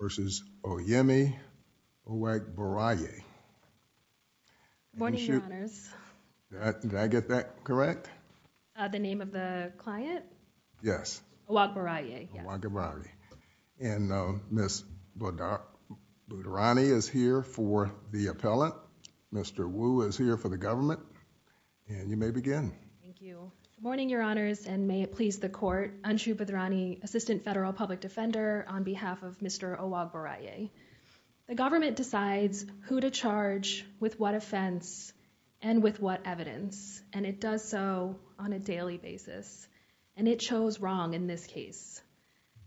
versus Oyeyemi Owagboriaye. Morning, Your Honors. Did I get that correct? The name of the client? Yes. Owagboriaye. Owagboriaye. And Ms. Bhadrani is here for the appellant. Mr. Wu is here for the government, and you may begin. Thank you. Morning, Your Honors, and may it please the Court, Mr. Owagboriaye. The government decides who to charge, with what offense, and with what evidence, and it does so on a daily basis, and it chose wrong in this case.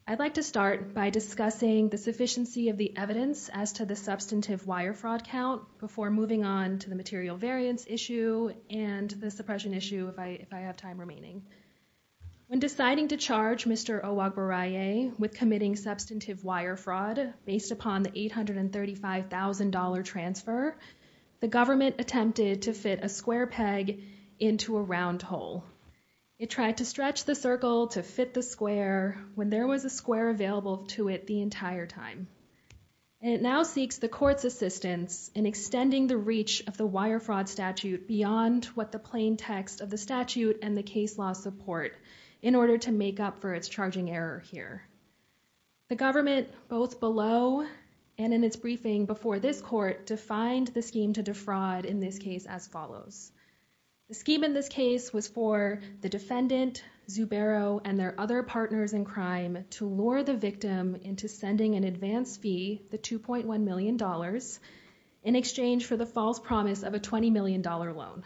I'd like to start by discussing the sufficiency of the evidence as to the substantive wire fraud count before moving on to the material variance issue and the suppression issue if I have time remaining. When deciding to charge Mr. Owagboriaye with committing substantive wire fraud based upon the $835,000 transfer, the government attempted to fit a square peg into a round hole. It tried to stretch the circle to fit the square when there was a square available to it the entire time. It now seeks the Court's assistance in extending the reach of the wire fraud statute beyond what the plain text of the statute and the case law support in order to make up for its charging error here. The government, both below and in its briefing before this Court, defined the scheme to defraud in this case as follows. The scheme in this case was for the defendant, Zubero, and their other partners in crime to lure the victim into sending an advance fee, the $2.1 million, in exchange for the false promise of a $20 million loan.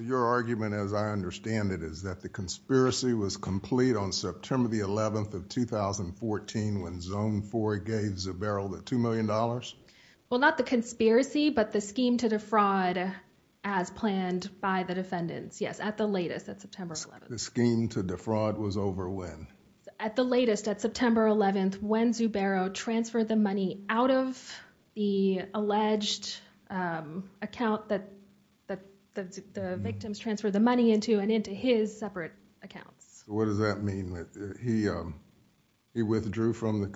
Your argument, as I understand it, is that the conspiracy was complete on September 11, 2014, when Zone 4 gave Zubero the $2 million? Well, not the conspiracy, but the scheme to defraud as planned by the defendants. Yes, at the latest, at September 11. The scheme to defraud was over when? At the latest, at September 11, when Zubero transferred the money out of the alleged account that the victims transferred the money into and into his separate accounts. What does that mean? He withdrew from the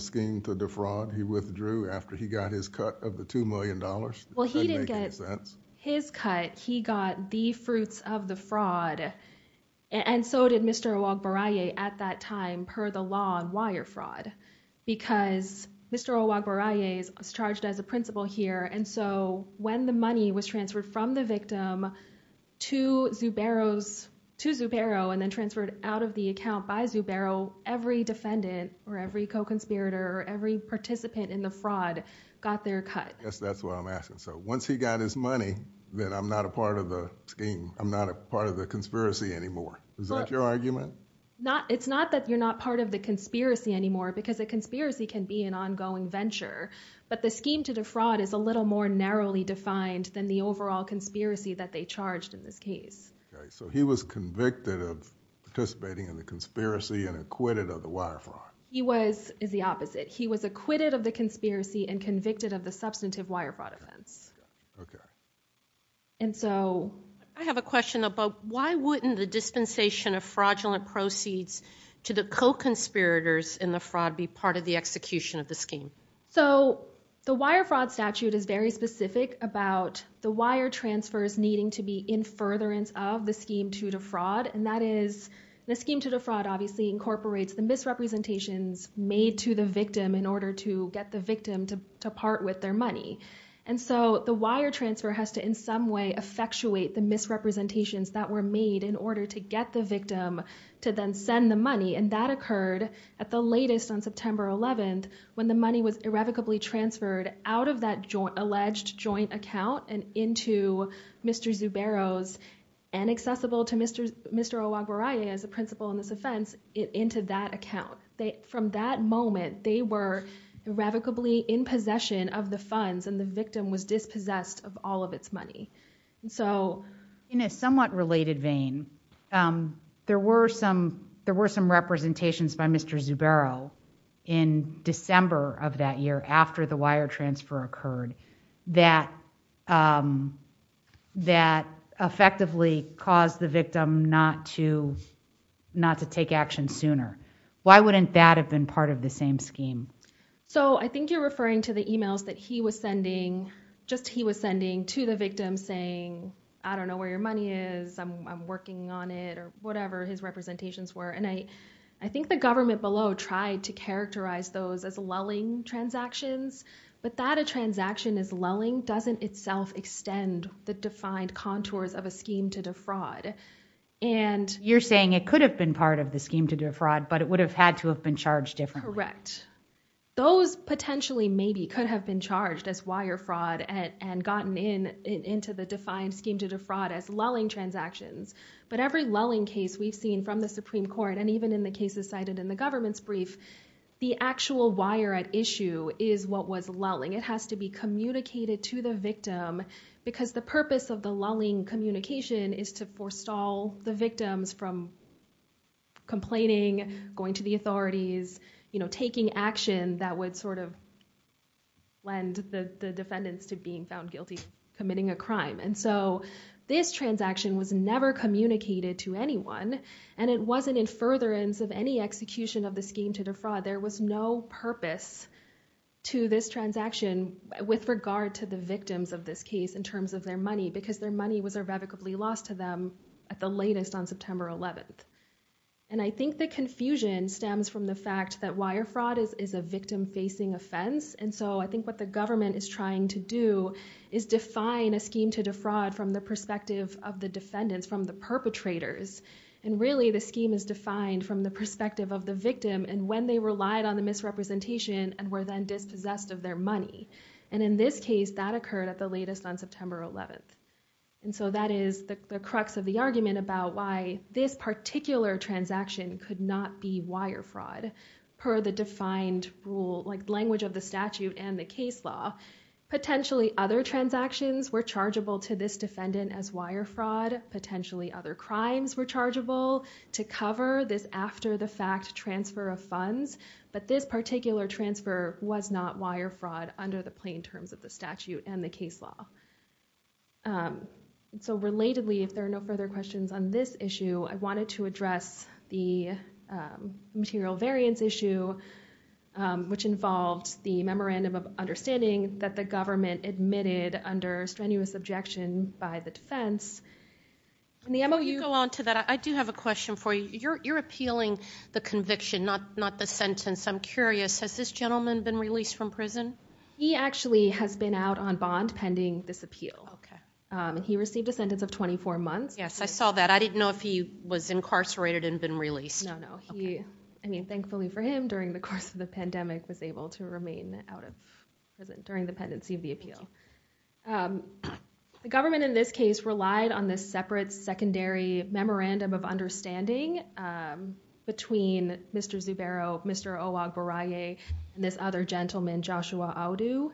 scheme to defraud? He withdrew after he got his cut of the $2 million? Well, he didn't get his cut. He got the fruits of the fraud, and so did Mr. Oluagbaraye at that time, per the law on wire fraud, because Mr. Oluagbaraye was charged as a principal here, and so when the money was transferred from the victim to Zubero and then transferred out of the account by Zubero, every defendant or every co-conspirator or every participant in the fraud got their cut. I guess that's what I'm asking. So once he got his money, then I'm not a part of the scheme. I'm not a part of the conspiracy anymore. Is that your argument? It's not that you're not part of the conspiracy anymore, because a conspiracy can be an ongoing venture, but the scheme to defraud is a little more narrowly defined than the overall conspiracy that they charged in this case. So he was convicted of participating in the conspiracy and acquitted of the wire fraud. He was, is the opposite. He was acquitted of the conspiracy and convicted of the substantive wire fraud offense. And so... I have a question about why wouldn't the dispensation of fraudulent proceeds to the co-conspirators in the fraud be part of the execution of the scheme? So the wire fraud statute is very specific about the wire transfers needing to be in furtherance of the scheme to defraud, and that is, the scheme to defraud obviously incorporates the misrepresentations made to the victim in order to get the victim to, to part with their money. And so the wire transfer has to, in some way, effectuate the misrepresentations that were made in order to get the victim to then send the money. And that occurred at the latest on September 11th, when the money was irrevocably transferred out of that joint, alleged joint account and into Mr. Zubero's, and accessible to Mr. Owagwarae as a principal in this offense, into that account. From that moment, they were irrevocably in possession of the funds, and the victim was dispossessed of all of its money. So... In a somewhat related vein, there were some, there were some representations by Mr. Zubero in December of that year, after the wire transfer occurred, that, that effectively caused the Why wouldn't that have been part of the same scheme? So I think you're referring to the emails that he was sending, just he was sending to the victim saying, I don't know where your money is, I'm working on it, or whatever his representations were. And I, I think the government below tried to characterize those as lulling transactions, but that a transaction is lulling doesn't itself extend the defined contours of a scheme to defraud. And... Scheme to defraud, but it would have had to have been charged differently. Correct. Those potentially maybe could have been charged as wire fraud at, and gotten in, into the defined scheme to defraud as lulling transactions. But every lulling case we've seen from the Supreme Court, and even in the cases cited in the government's brief, the actual wire at issue is what was lulling. It has to be communicated to the victim, because the purpose of the lulling communication is to forestall the victims from complaining, going to the authorities, taking action that would sort of lend the defendants to being found guilty of committing a crime. And so this transaction was never communicated to anyone, and it wasn't in furtherance of any execution of the scheme to defraud. There was no purpose to this transaction with regard to the victims of this case in terms of their money, because their money was irrevocably lost to them at the latest on September 11th. And I think the confusion stems from the fact that wire fraud is a victim-facing offense, and so I think what the government is trying to do is define a scheme to defraud from the perspective of the defendants, from the perpetrators. And really, the scheme is defined from the perspective of the victim, and when they relied on the misrepresentation, and were then dispossessed of their money. And in this case, that occurred at the latest on September 11th. And so that is the crux of the argument about why this particular transaction could not be wire fraud, per the defined rule, like language of the statute and the case law. Potentially other transactions were chargeable to this defendant as wire fraud. Potentially other crimes were chargeable to cover this after-the-fact transfer of funds, but this particular transfer was not wire fraud under the plain terms of the statute and the case law. So relatedly, if there are no further questions on this issue, I wanted to address the material variance issue, which involved the memorandum of understanding that the government admitted under strenuous objection by the defense, and the MOU... Before you go on to that, I do have a question for you. You're appealing the conviction, not the sentence. I'm curious, has this gentleman been released from prison? He actually has been out on bond pending this appeal. He received a sentence of 24 months. Yes, I saw that. I didn't know if he was incarcerated and been released. No, no. I mean, thankfully for him, during the course of the pandemic, was able to remain out of prison during the pendency of the appeal. The government in this case relied on this separate secondary memorandum of understanding between Mr. Zubero, Mr. Oagbaraye, and this gentleman, Joshua Aoudou.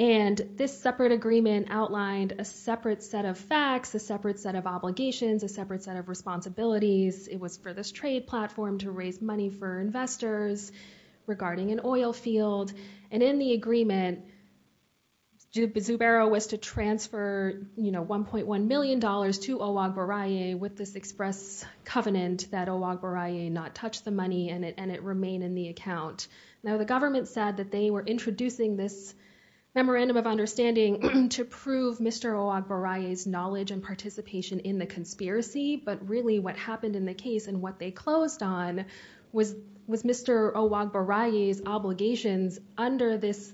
And this separate agreement outlined a separate set of facts, a separate set of obligations, a separate set of responsibilities. It was for this trade platform to raise money for investors regarding an oil field. And in the agreement, Zubero was to transfer $1.1 million to Oagbaraye with this express covenant that Oagbaraye not touch the money and it remain in the account. Now, the government said that they were introducing this memorandum of understanding to prove Mr. Oagbaraye's knowledge and participation in the conspiracy. But really what happened in the case and what they closed on was Mr. Oagbaraye's obligations under this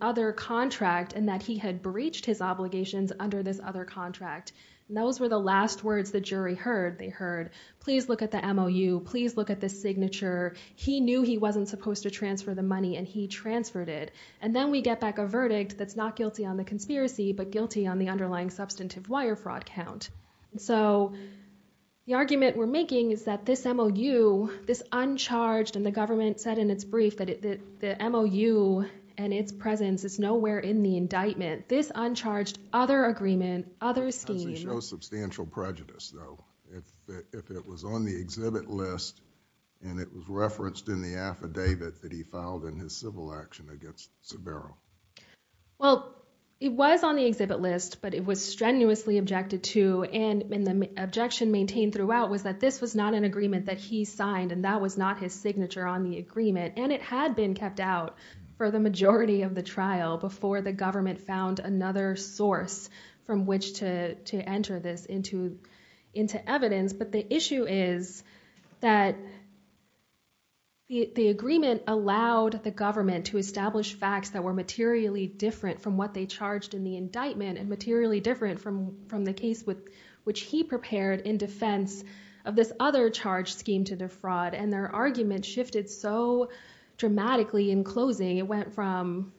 other contract and that he had breached his obligations under this other contract. And those were the last words the jury heard. They heard, please look at the MOU, please look at the signature. He knew he wasn't supposed to transfer the money and he transferred it. And then we get back a verdict that's not guilty on the conspiracy, but guilty on the underlying substantive wire fraud count. And so the argument we're making is that this MOU, this uncharged, and the government said in its brief that the MOU and its presence is nowhere in the indictment. This uncharged other agreement, other scheme. Does it show substantial prejudice though, if it was on the exhibit list and it was referenced in the affidavit that he filed in his civil action against Zubero? Well, it was on the exhibit list, but it was strenuously objected to. And the objection maintained throughout was that this was not an agreement that he signed and that was not his signature on the agreement. And it had been kept out for the majority of the trial before the government found another source from which to enter this into evidence. But the issue is that the agreement allowed the government to establish facts that were materially different from what they charged in the indictment and materially different from the case which he prepared in defense of this other charge scheme to defraud. And their argument shifted so dramatically in closing. It went from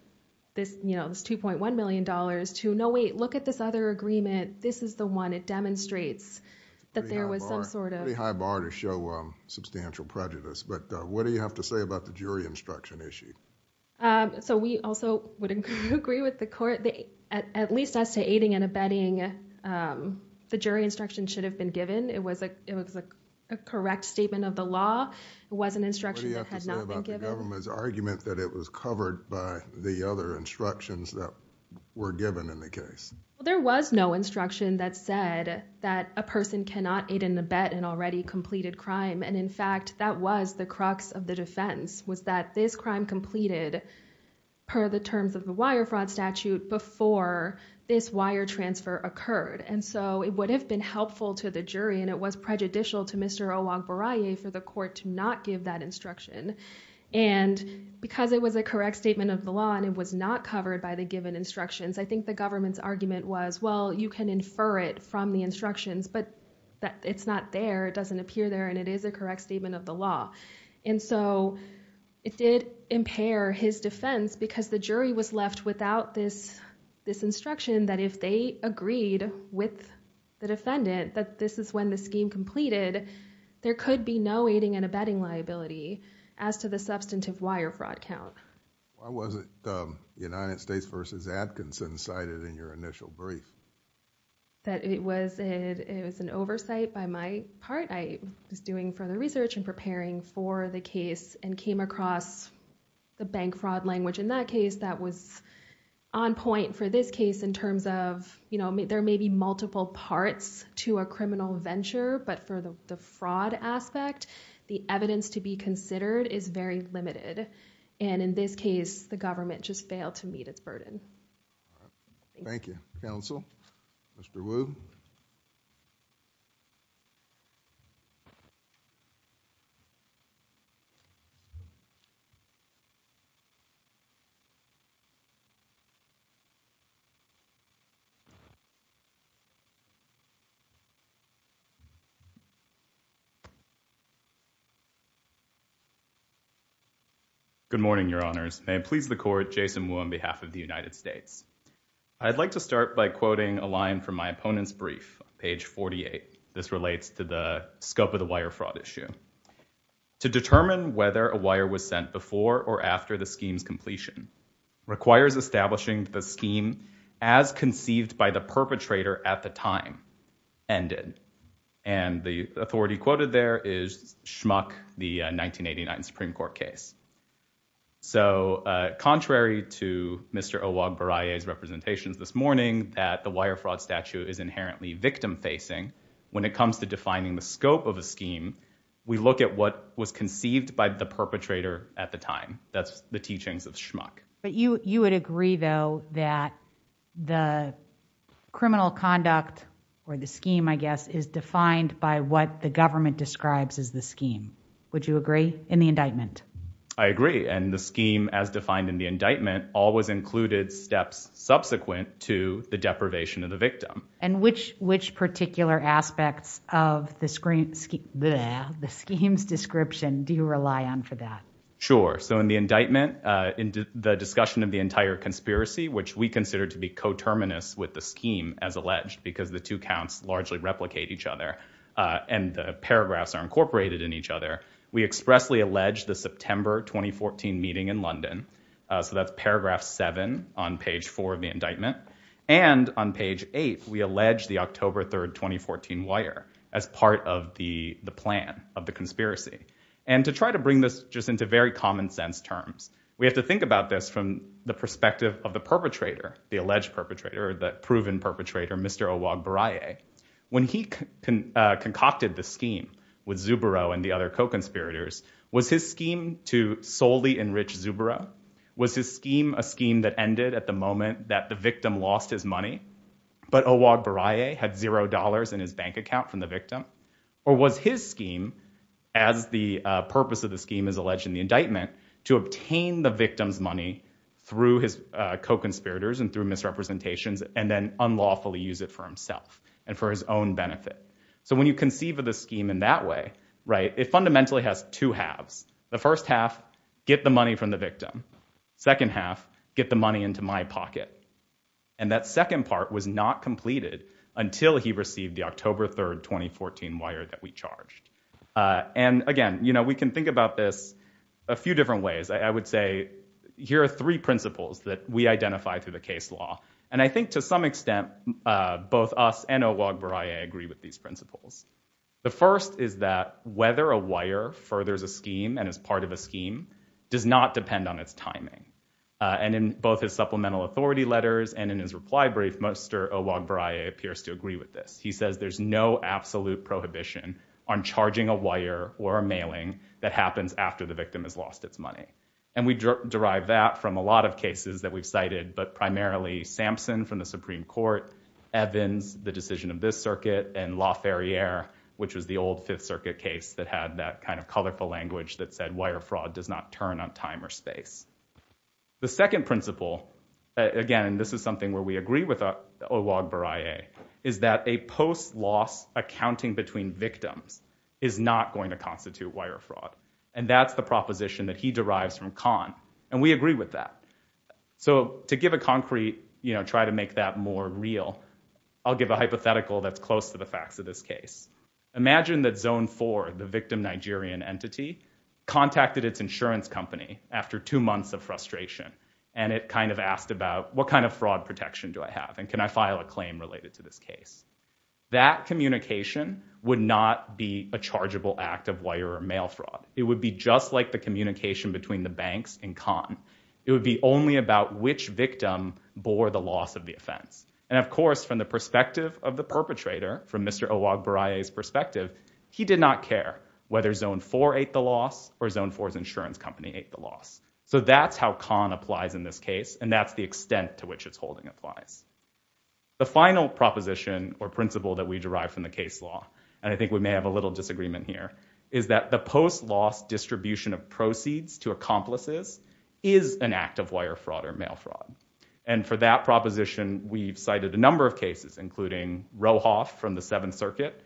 this $2.1 million to, look at this other agreement. This is the one. It demonstrates that there was some sort of... Pretty high bar to show substantial prejudice. But what do you have to say about the jury instruction issue? So we also would agree with the court, at least as to aiding and abetting, the jury instruction should have been given. It was a correct statement of the law. It was an instruction that had not been given. What do you have to say about the government's covered by the other instructions that were given in the case? There was no instruction that said that a person cannot aid and abet an already completed crime. And in fact, that was the crux of the defense was that this crime completed per the terms of the wire fraud statute before this wire transfer occurred. And so it would have been helpful to the jury and it was prejudicial to Mr. Olagbaraye for the court to not give that instruction. And because it was a correct statement of the law and it was not covered by the given instructions, I think the government's argument was, well, you can infer it from the instructions, but it's not there. It doesn't appear there and it is a correct statement of the law. And so it did impair his defense because the jury was left without this instruction that if they agreed with the defendant that this is when the scheme completed, there could be no abetting liability as to the substantive wire fraud count. Why was it the United States versus Atkinson cited in your initial brief? That it was an oversight by my part. I was doing further research and preparing for the case and came across the bank fraud language in that case that was on point for this case in terms of, there may be multiple parts to a criminal venture, but for the fraud aspect, the evidence to be considered is very limited. And in this case, the government just failed to meet its burden. Thank you, counsel. Mr. Wu. Good morning, your honors. May it please the court, Jason Wu on behalf of the United States. I'd like to start by quoting a line from my opponent's brief, page 48. This relates to the scope of the wire fraud issue. To determine whether a wire was sent before or after the perpetrator at the time ended. And the authority quoted there is Schmuck, the 1989 Supreme Court case. So contrary to Mr. Owagbaraye's representations this morning that the wire fraud statute is inherently victim facing, when it comes to defining the scope of a scheme, we look at what was conceived by the perpetrator at the time. That's the teachings of Schmuck. But you, you would agree though, that the criminal conduct or the scheme, I guess, is defined by what the government describes as the scheme. Would you agree in the indictment? I agree. And the scheme as defined in the indictment always included steps subsequent to the deprivation of the victim. And which, which particular aspects of the screen, the schemes description, do you rely on for that? Sure. So in the indictment, in the discussion of the entire conspiracy, which we consider to be coterminous with the scheme as alleged, because the two counts largely replicate each other. And the paragraphs are incorporated in each other. We expressly alleged the September 2014 meeting in London. So that's paragraph seven on page four of the indictment. And on page eight, we allege the October 3rd, 2014 wire as part of the plan of the conspiracy. And to try to bring this just into very common sense terms, we have to think about this from the perspective of the perpetrator, the alleged perpetrator, the proven perpetrator, Mr. Owagboraye. When he concocted the scheme with Zubero and the other co-conspirators, was his scheme to solely enrich Zubero? Was his scheme a scheme that ended at the moment that the victim lost his money, but Owagboraye had zero dollars in his bank account from the victim? Or was his scheme, as the purpose of the scheme is alleged in the indictment, to obtain the victim's money through his co-conspirators and through misrepresentations, and then unlawfully use it for himself and for his own benefit? So when you conceive of the scheme in that way, it fundamentally has two halves. The first half, get the money from the victim. Second half, get the money into my pocket. And that second part was not completed until he was convicted. And that was the 2014 wire that we charged. And again, you know, we can think about this a few different ways. I would say, here are three principles that we identify through the case law. And I think to some extent, both us and Owagboraye agree with these principles. The first is that whether a wire furthers a scheme and is part of a scheme does not depend on its timing. And in both his supplemental authority letters and in his reply brief, Mr. Owagboraye appears to agree with this. He says there's no absolute prohibition on charging a wire or a mailing that happens after the victim has lost its money. And we derive that from a lot of cases that we've cited, but primarily Sampson from the Supreme Court, Evans, the decision of this circuit, and Laferriere, which was the old Fifth Circuit case that had that kind of colorful language that said wire fraud does not turn on time or space. The second principle, again, and this is something where we agree with Owagboraye, is that a post-loss accounting between victims is not going to constitute wire fraud. And that's the proposition that he derives from Kahn. And we agree with that. So to give a concrete, you know, try to make that more real, I'll give a hypothetical that's close to the facts of this case. Imagine that Zone 4, the victim Nigerian entity, contacted its insurance company after two months of frustration. And it kind of asked about what kind of fraud protection do I have? And can I file a claim related to this case? That communication would not be a chargeable act of wire or mail fraud. It would be just like the communication between the banks and Kahn. It would be only about which victim bore the loss of the offense. And of course, from the perspective of the perpetrator, from Mr. Owagboraye's perspective, he did not care whether Zone 4 ate the loss or Zone 4's insurance company ate the loss. So that's how Kahn applies in this case, and that's the extent to which its holding applies. The final proposition or principle that we derive from the case law, and I think we may have a little disagreement here, is that the post-loss distribution of proceeds to accomplices is an act of wire fraud or mail fraud. And for that proposition, we've cited a number of cases, including Rohoff from the Seventh Circuit,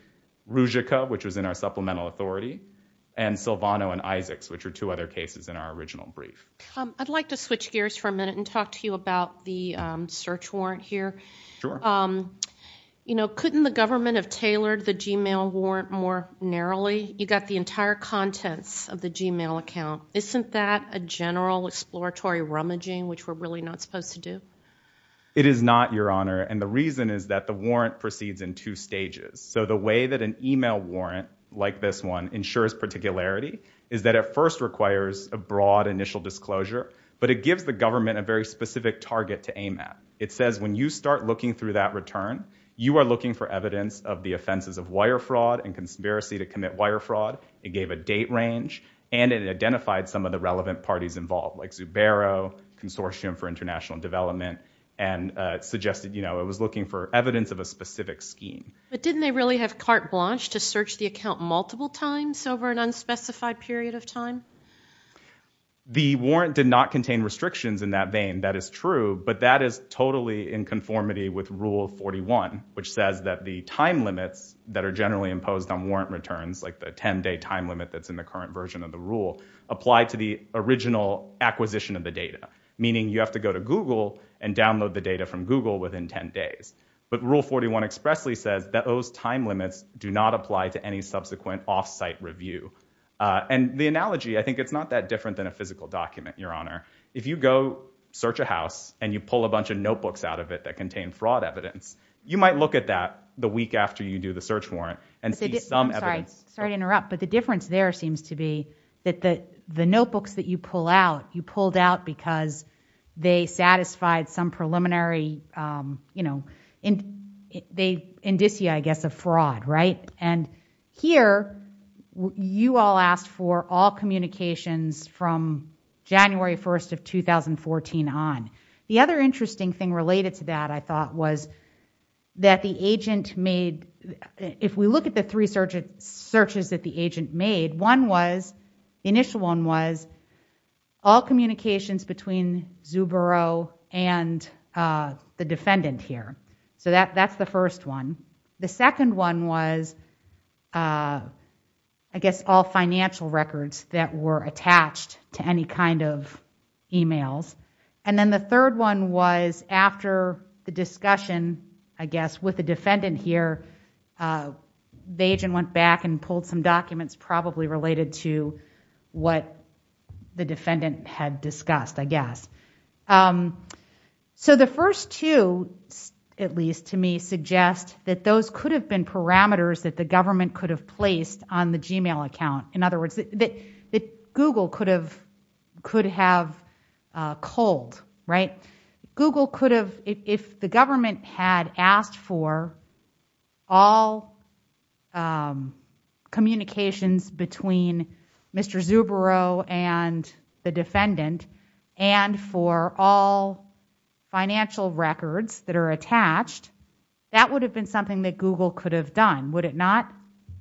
Ruzicka, which was in our supplemental authority, and Silvano and Isaacs, which are two other cases in our original brief. I'd like to switch gears for a minute and talk to you about the search warrant here. Sure. You know, couldn't the government have tailored the Gmail warrant more narrowly? You got the entire contents of the Gmail account. Isn't that a general exploratory rummaging, which we're really not supposed to do? It is not, Your Honor, and the warrant proceeds in two stages. So the way that an email warrant, like this one, ensures particularity is that it first requires a broad initial disclosure, but it gives the government a very specific target to aim at. It says when you start looking through that return, you are looking for evidence of the offenses of wire fraud and conspiracy to commit wire fraud. It gave a date range, and it identified some of the relevant parties involved, like Zubero, Consortium for a specific scheme. But didn't they really have carte blanche to search the account multiple times over an unspecified period of time? The warrant did not contain restrictions in that vein, that is true, but that is totally in conformity with Rule 41, which says that the time limits that are generally imposed on warrant returns, like the 10-day time limit that's in the current version of the rule, apply to the original acquisition of the data, meaning you have to go to Google and download the data from Google within 10 days. But Rule 41 expressly says that those time limits do not apply to any subsequent off-site review. And the analogy, I think it's not that different than a physical document, Your Honor. If you go search a house and you pull a bunch of notebooks out of it that contain fraud evidence, you might look at that the week after you do the search warrant and see some evidence. I'm sorry to interrupt, but the difference there seems to be that the notebooks that you pulled out, you pulled out because they satisfied some preliminary indicia, I guess, of fraud, right? And here, you all asked for all communications from January 1st of 2014 on. The other interesting thing related to that, I thought, was that the agent made... If we look at the three searches that the agent made, one was, the initial one was, all communications between Zubero and the defendant here. So that's the first one. The second one was, I guess, all financial records that were attached to any kind of emails. And then the third one was after the discussion, I guess, with the defendant here, the agent went back and pulled some documents probably related to what the defendant had discussed, I guess. So the first two, at least to me, suggest that those could have been parameters that the government could have placed on the Gmail account. In other words, that Google could have culled, right? Google could have... If the government had asked for all communications between Mr. Zubero and the defendant, and for all financial records that are attached, that would have been something that Google could have done, would it not?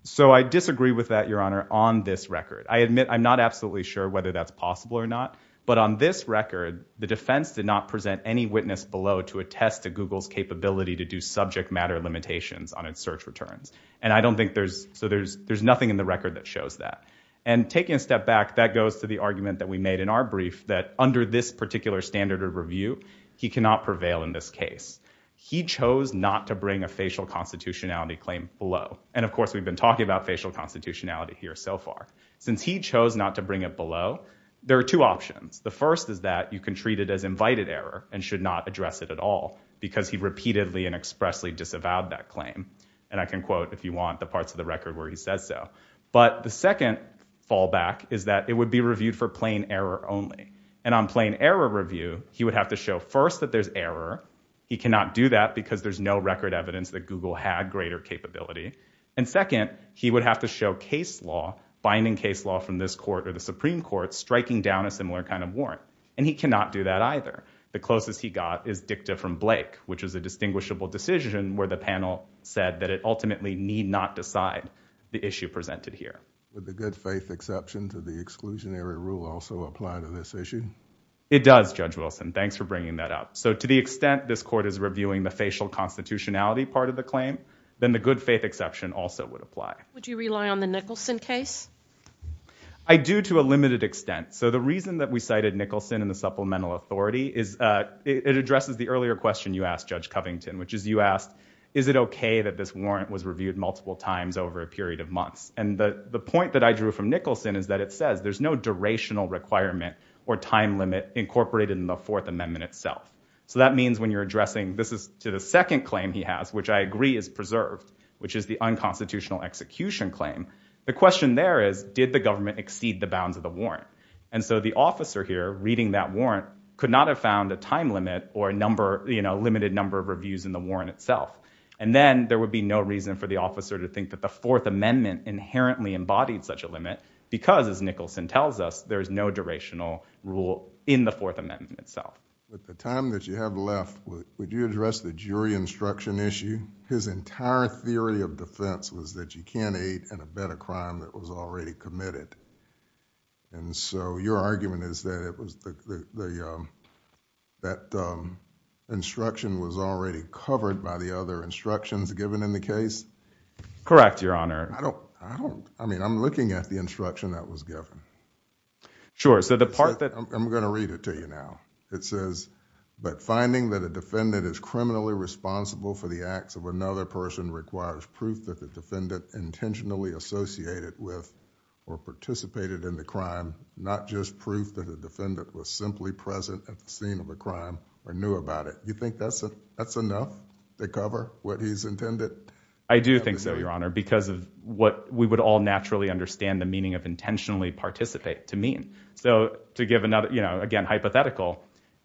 So I disagree with that, Your Honor, on this record. I admit, I'm not absolutely sure whether that's possible or not. But on this record, the defense did not present any witness below to test to Google's capability to do subject matter limitations on its search returns. And I don't think there's... So there's nothing in the record that shows that. And taking a step back, that goes to the argument that we made in our brief, that under this particular standard of review, he cannot prevail in this case. He chose not to bring a facial constitutionality claim below. And of course, we've been talking about facial constitutionality here so far. Since he chose not to bring it below, there are two options. The first is that you can because he repeatedly and expressly disavowed that claim. And I can quote, if you want, the parts of the record where he says so. But the second fallback is that it would be reviewed for plain error only. And on plain error review, he would have to show first that there's error. He cannot do that because there's no record evidence that Google had greater capability. And second, he would have to show case law, binding case law from this court or the Supreme Court, striking down a similar kind of warrant. And he cannot do that either. The closest he got is dicta from Blake, which is a distinguishable decision where the panel said that it ultimately need not decide the issue presented here. Would the good faith exception to the exclusionary rule also apply to this issue? It does, Judge Wilson. Thanks for bringing that up. So to the extent this court is reviewing the facial constitutionality part of the claim, then the good faith exception also would apply. Would you rely on the Nicholson case? I do to a limited extent. So the reason that we cited Nicholson and the supplemental authority is it addresses the earlier question you asked, Judge Covington, which is you asked, is it OK that this warrant was reviewed multiple times over a period of months? And the point that I drew from Nicholson is that it says there's no durational requirement or time limit incorporated in the Fourth Amendment itself. So that means when you're addressing, this is to the second claim he has, which I agree is preserved, which is the unconstitutional execution claim. The question there is, did the government exceed the bounds of the warrant? And so the officer here reading that warrant could not have found a time limit or a limited number of reviews in the warrant itself. And then there would be no reason for the officer to think that the Fourth Amendment inherently embodied such a limit because, as Nicholson tells us, there is no durational rule in the Fourth Amendment itself. With the time that you have left, would you address the jury instruction issue? His entire theory of defense was that you can't and a better crime that was already committed. And so your argument is that it was the that instruction was already covered by the other instructions given in the case. Correct, Your Honor. I don't I don't I mean, I'm looking at the instruction that was given. Sure. So the part that I'm going to read it to you now, it says, but finding that a defendant is criminally responsible for the acts of another person requires proof that the defendant intentionally associated with or participated in the crime, not just proof that the defendant was simply present at the scene of a crime or knew about it. You think that's that's enough to cover what he's intended? I do think so, Your Honor, because of what we would all naturally understand the meaning of intentionally participate to mean. So to give another, you know, again, hypothetical,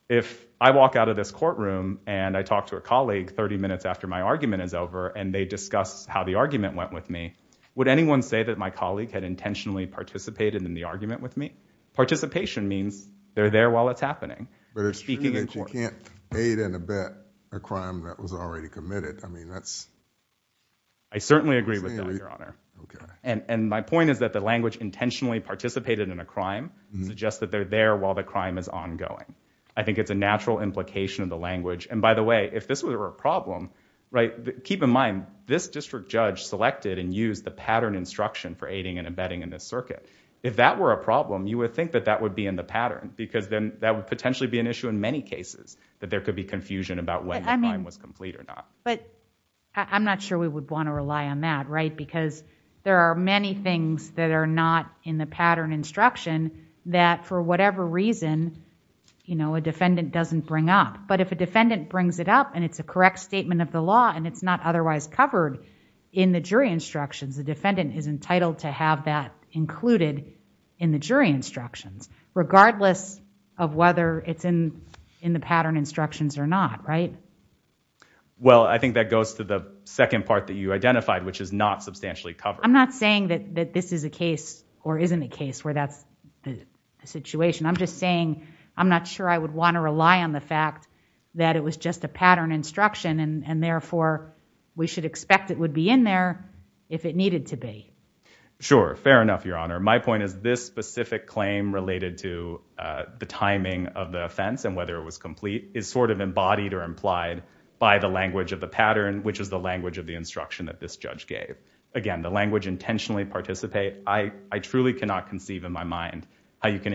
if I walk out of this courtroom and I talk to a colleague 30 minutes after my argument is over and they discuss how the argument went with me, would anyone say that my colleague had intentionally participated in the argument with me? Participation means they're there while it's happening. But it's speaking in court. You can't aid and abet a crime that was already committed. I mean, that's. I certainly agree with that, Your Honor. OK, and my point is that the language intentionally participated in a crime suggests that they're there while the crime is ongoing. I think it's a natural implication of the language. And by the way, if this were a problem, right, keep in mind this district judge selected and used the pattern instruction for aiding and abetting in this circuit. If that were a problem, you would think that that would be in the pattern because then that would potentially be an issue in many cases that there could be confusion about whether the crime was complete or not. But I'm not sure we would want to rely on that. Right. Because there are many things that are not in the pattern instruction that for whatever reason, you know, a defendant doesn't bring up. But if a defendant brings it up and it's a correct statement of the law and it's not otherwise covered in the jury instructions, the defendant is entitled to have that included in the jury instructions, regardless of whether it's in in the pattern instructions or not. Right. Well, I think that goes to the second part that you identified, which is not substantially covered. I'm not saying that this is a case or isn't a case where that's the situation. I'm just saying I'm not sure I would want to rely on the fact that it was just a pattern instruction and therefore we should expect it would be in there if it needed to be. Sure. Fair enough, Your Honor. My point is this specific claim related to the timing of the offense and whether it was complete is sort of embodied or implied by the language of the pattern, which is the language of the instruction that this judge gave. Again, the language intentionally participate. I truly cannot conceive in my mind how you can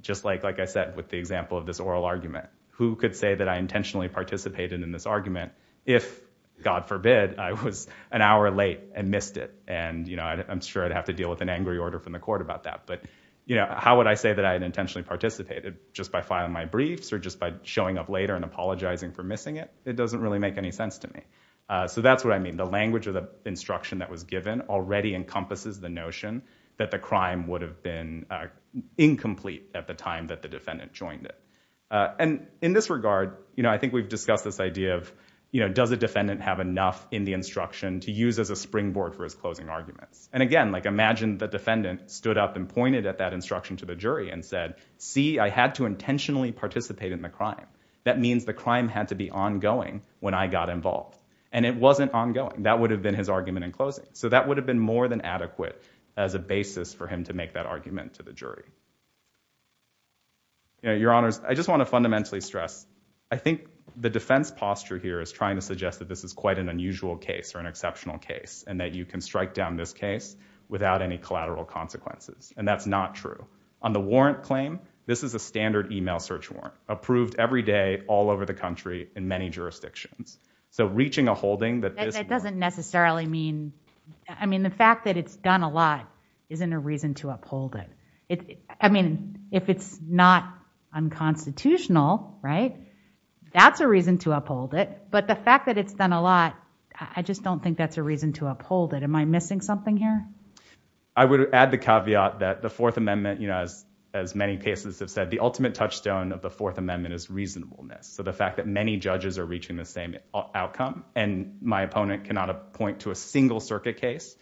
just like, like I said, with the example of this oral argument, who could say that I intentionally participated in this argument if, God forbid, I was an hour late and missed it. And, you know, I'm sure I'd have to deal with an angry order from the court about that. But, you know, how would I say that I had intentionally participated just by filing my briefs or just by showing up later and apologizing for missing it? It doesn't really make any sense to me. So that's what I mean. The language of the instruction that was given already encompasses the notion that the crime would have been incomplete at the time that the defendant joined it. And in this regard, you know, I think we've discussed this idea of, you know, does a defendant have enough in the instruction to use as a springboard for his closing arguments? And again, like imagine the defendant stood up and pointed at that instruction to the jury and said, see, I had to intentionally participate in the crime. That means the crime had to be ongoing when I got involved. And it wasn't ongoing. That would have been his argument in closing. So that would have been more than adequate as a basis for him to make that argument to the jury. Your Honors, I just want to fundamentally stress, I think the defense posture here is trying to suggest that this is quite an unusual case or an exceptional case and that you can strike down this case without any collateral consequences. And that's not true. On the warrant claim, this is a standard email search warrant approved every day all over the country in many jurisdictions. So reaching a holding that doesn't necessarily mean I mean, the fact that it's done a lot isn't a reason to uphold it. I mean, if it's not unconstitutional, right? That's a reason to uphold it. But the fact that it's done a lot, I just don't think that's a reason to uphold it. Am I missing something here? I would add the caveat that the Fourth Amendment, you know, as as many cases have said, the ultimate touchstone of the Fourth Amendment is reasonableness. So the fact that many judges are reaching the same outcome and my opponent cannot appoint to a single circuit case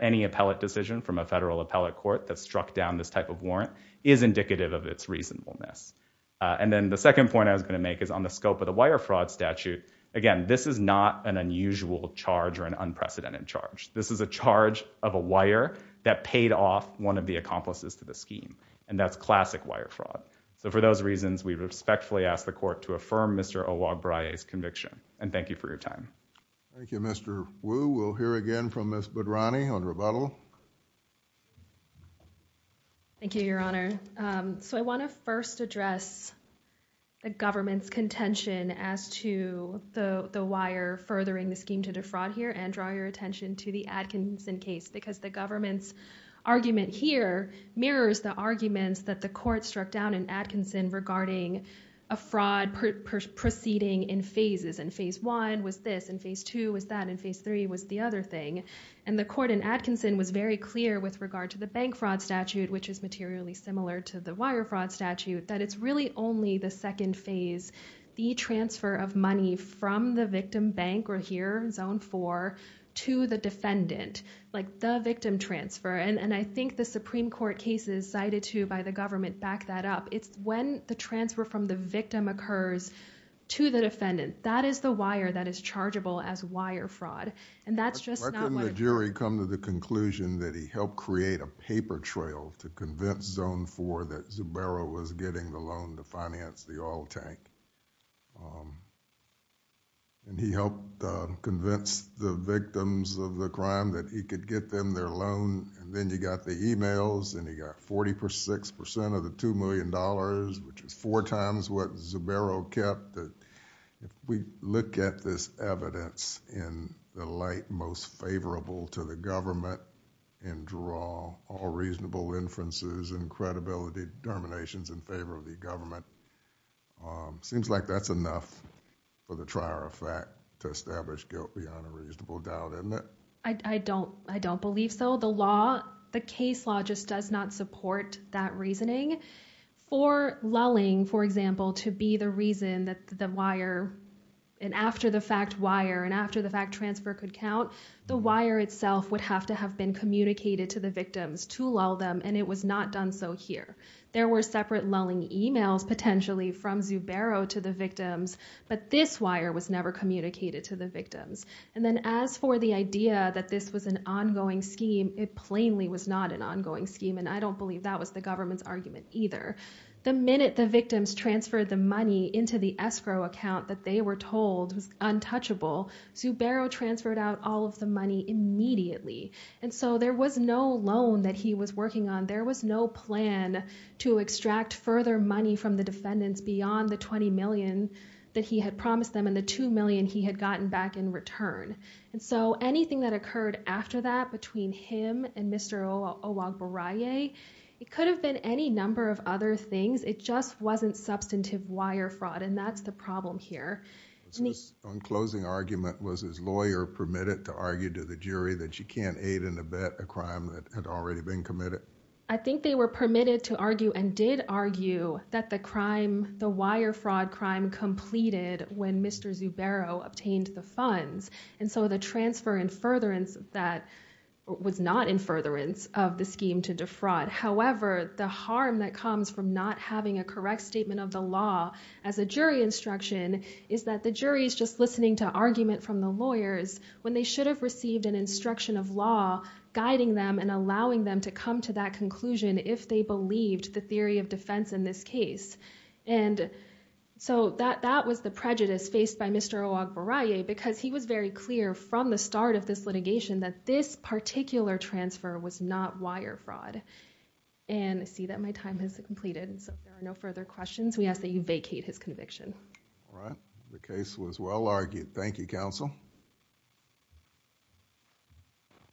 any appellate decision from a federal appellate court that struck down this type of warrant is indicative of its reasonableness. And then the second point I was going to make is on the scope of the wire fraud statute. Again, this is not an unusual charge or an unprecedented charge. This is a charge of a wire that paid off one of the accomplices to the scheme. And that's classic wire fraud. So for those reasons, we respectfully ask the court to affirm Mr. Oluagbaraye's conviction. And thank you for your time. Thank you, Mr. Wu. We'll hear again from Ms. Badrani on rebuttal. Thank you, Your Honor. So I want to first address the government's contention as to the wire furthering the scheme to defraud here and draw your attention to the Atkinson case, because the government's argument here mirrors the arguments that the court struck down in Atkinson regarding a fraud proceeding in phases. In phase one was this. In phase two was that. In phase three was the other thing. And the court in Atkinson was very clear with regard to the bank fraud statute, which is materially similar to the wire fraud statute, that it's really only the second phase, the transfer of money from the victim bank or here, zone four, to the defendant, like the victim transfer. And I think the Supreme Court cases cited to by the government back that up. It's when the transfer from the victim occurs to the defendant. That is the wire that is chargeable as wire fraud. And that's just not what... Why couldn't the jury come to the conclusion that he helped create a paper trail to convince zone four that Zubero was getting the loan to finance the oil tank? And he helped convince the victims of the crime that he could get them their loan, and then you got the emails, and he got 46% of the $2 million, which is four times what Zubero kept. If we look at this evidence in the light most favorable to the government and draw all reasonable inferences and credibility determinations in favor of the government, seems like that's enough for the trier of fact to establish guilt beyond a reasonable doubt, isn't it? I don't believe so. The case law just does not support that reasoning. For lulling, for example, to be the reason that the wire... and after the fact wire and after the fact transfer could count, the wire itself would have to have been communicated to the victims to lull them, and it was not done so here. There were separate lulling emails, potentially, from Zubero to the victims, but this wire was never communicated to the victims. And then as for the idea that this was an ongoing scheme, it plainly was not an ongoing scheme, and I don't believe that was the government's argument either. The minute the victims transferred the money into the escrow account that they were told was untouchable, Zubero transferred out all of the money immediately, and so there was no loan that he was working on. There was no plan to extract further money from the defendants beyond the $20 million that he had promised them, the $2 million he had gotten back in return. And so anything that occurred after that between him and Mr. Owagboraye, it could have been any number of other things. It just wasn't substantive wire fraud, and that's the problem here. So his own closing argument was his lawyer permitted to argue to the jury that you can't aid and abet a crime that had already been committed? I think they were permitted to argue and did argue that the wire fraud crime completed when Mr. Zubero obtained the funds, and so the transfer in furtherance that was not in furtherance of the scheme to defraud. However, the harm that comes from not having a correct statement of the law as a jury instruction is that the jury is just listening to argument from the lawyers when they should have received an instruction of law guiding them and allowing them to come to that conclusion if they believed the theory of defense in this case. And so that that was the prejudice faced by Mr. Owagboraye because he was very clear from the start of this litigation that this particular transfer was not wire fraud. And I see that my time has completed and so there are no further questions. We ask that you vacate his conviction. All right, the case was well argued. Thank you, counsel.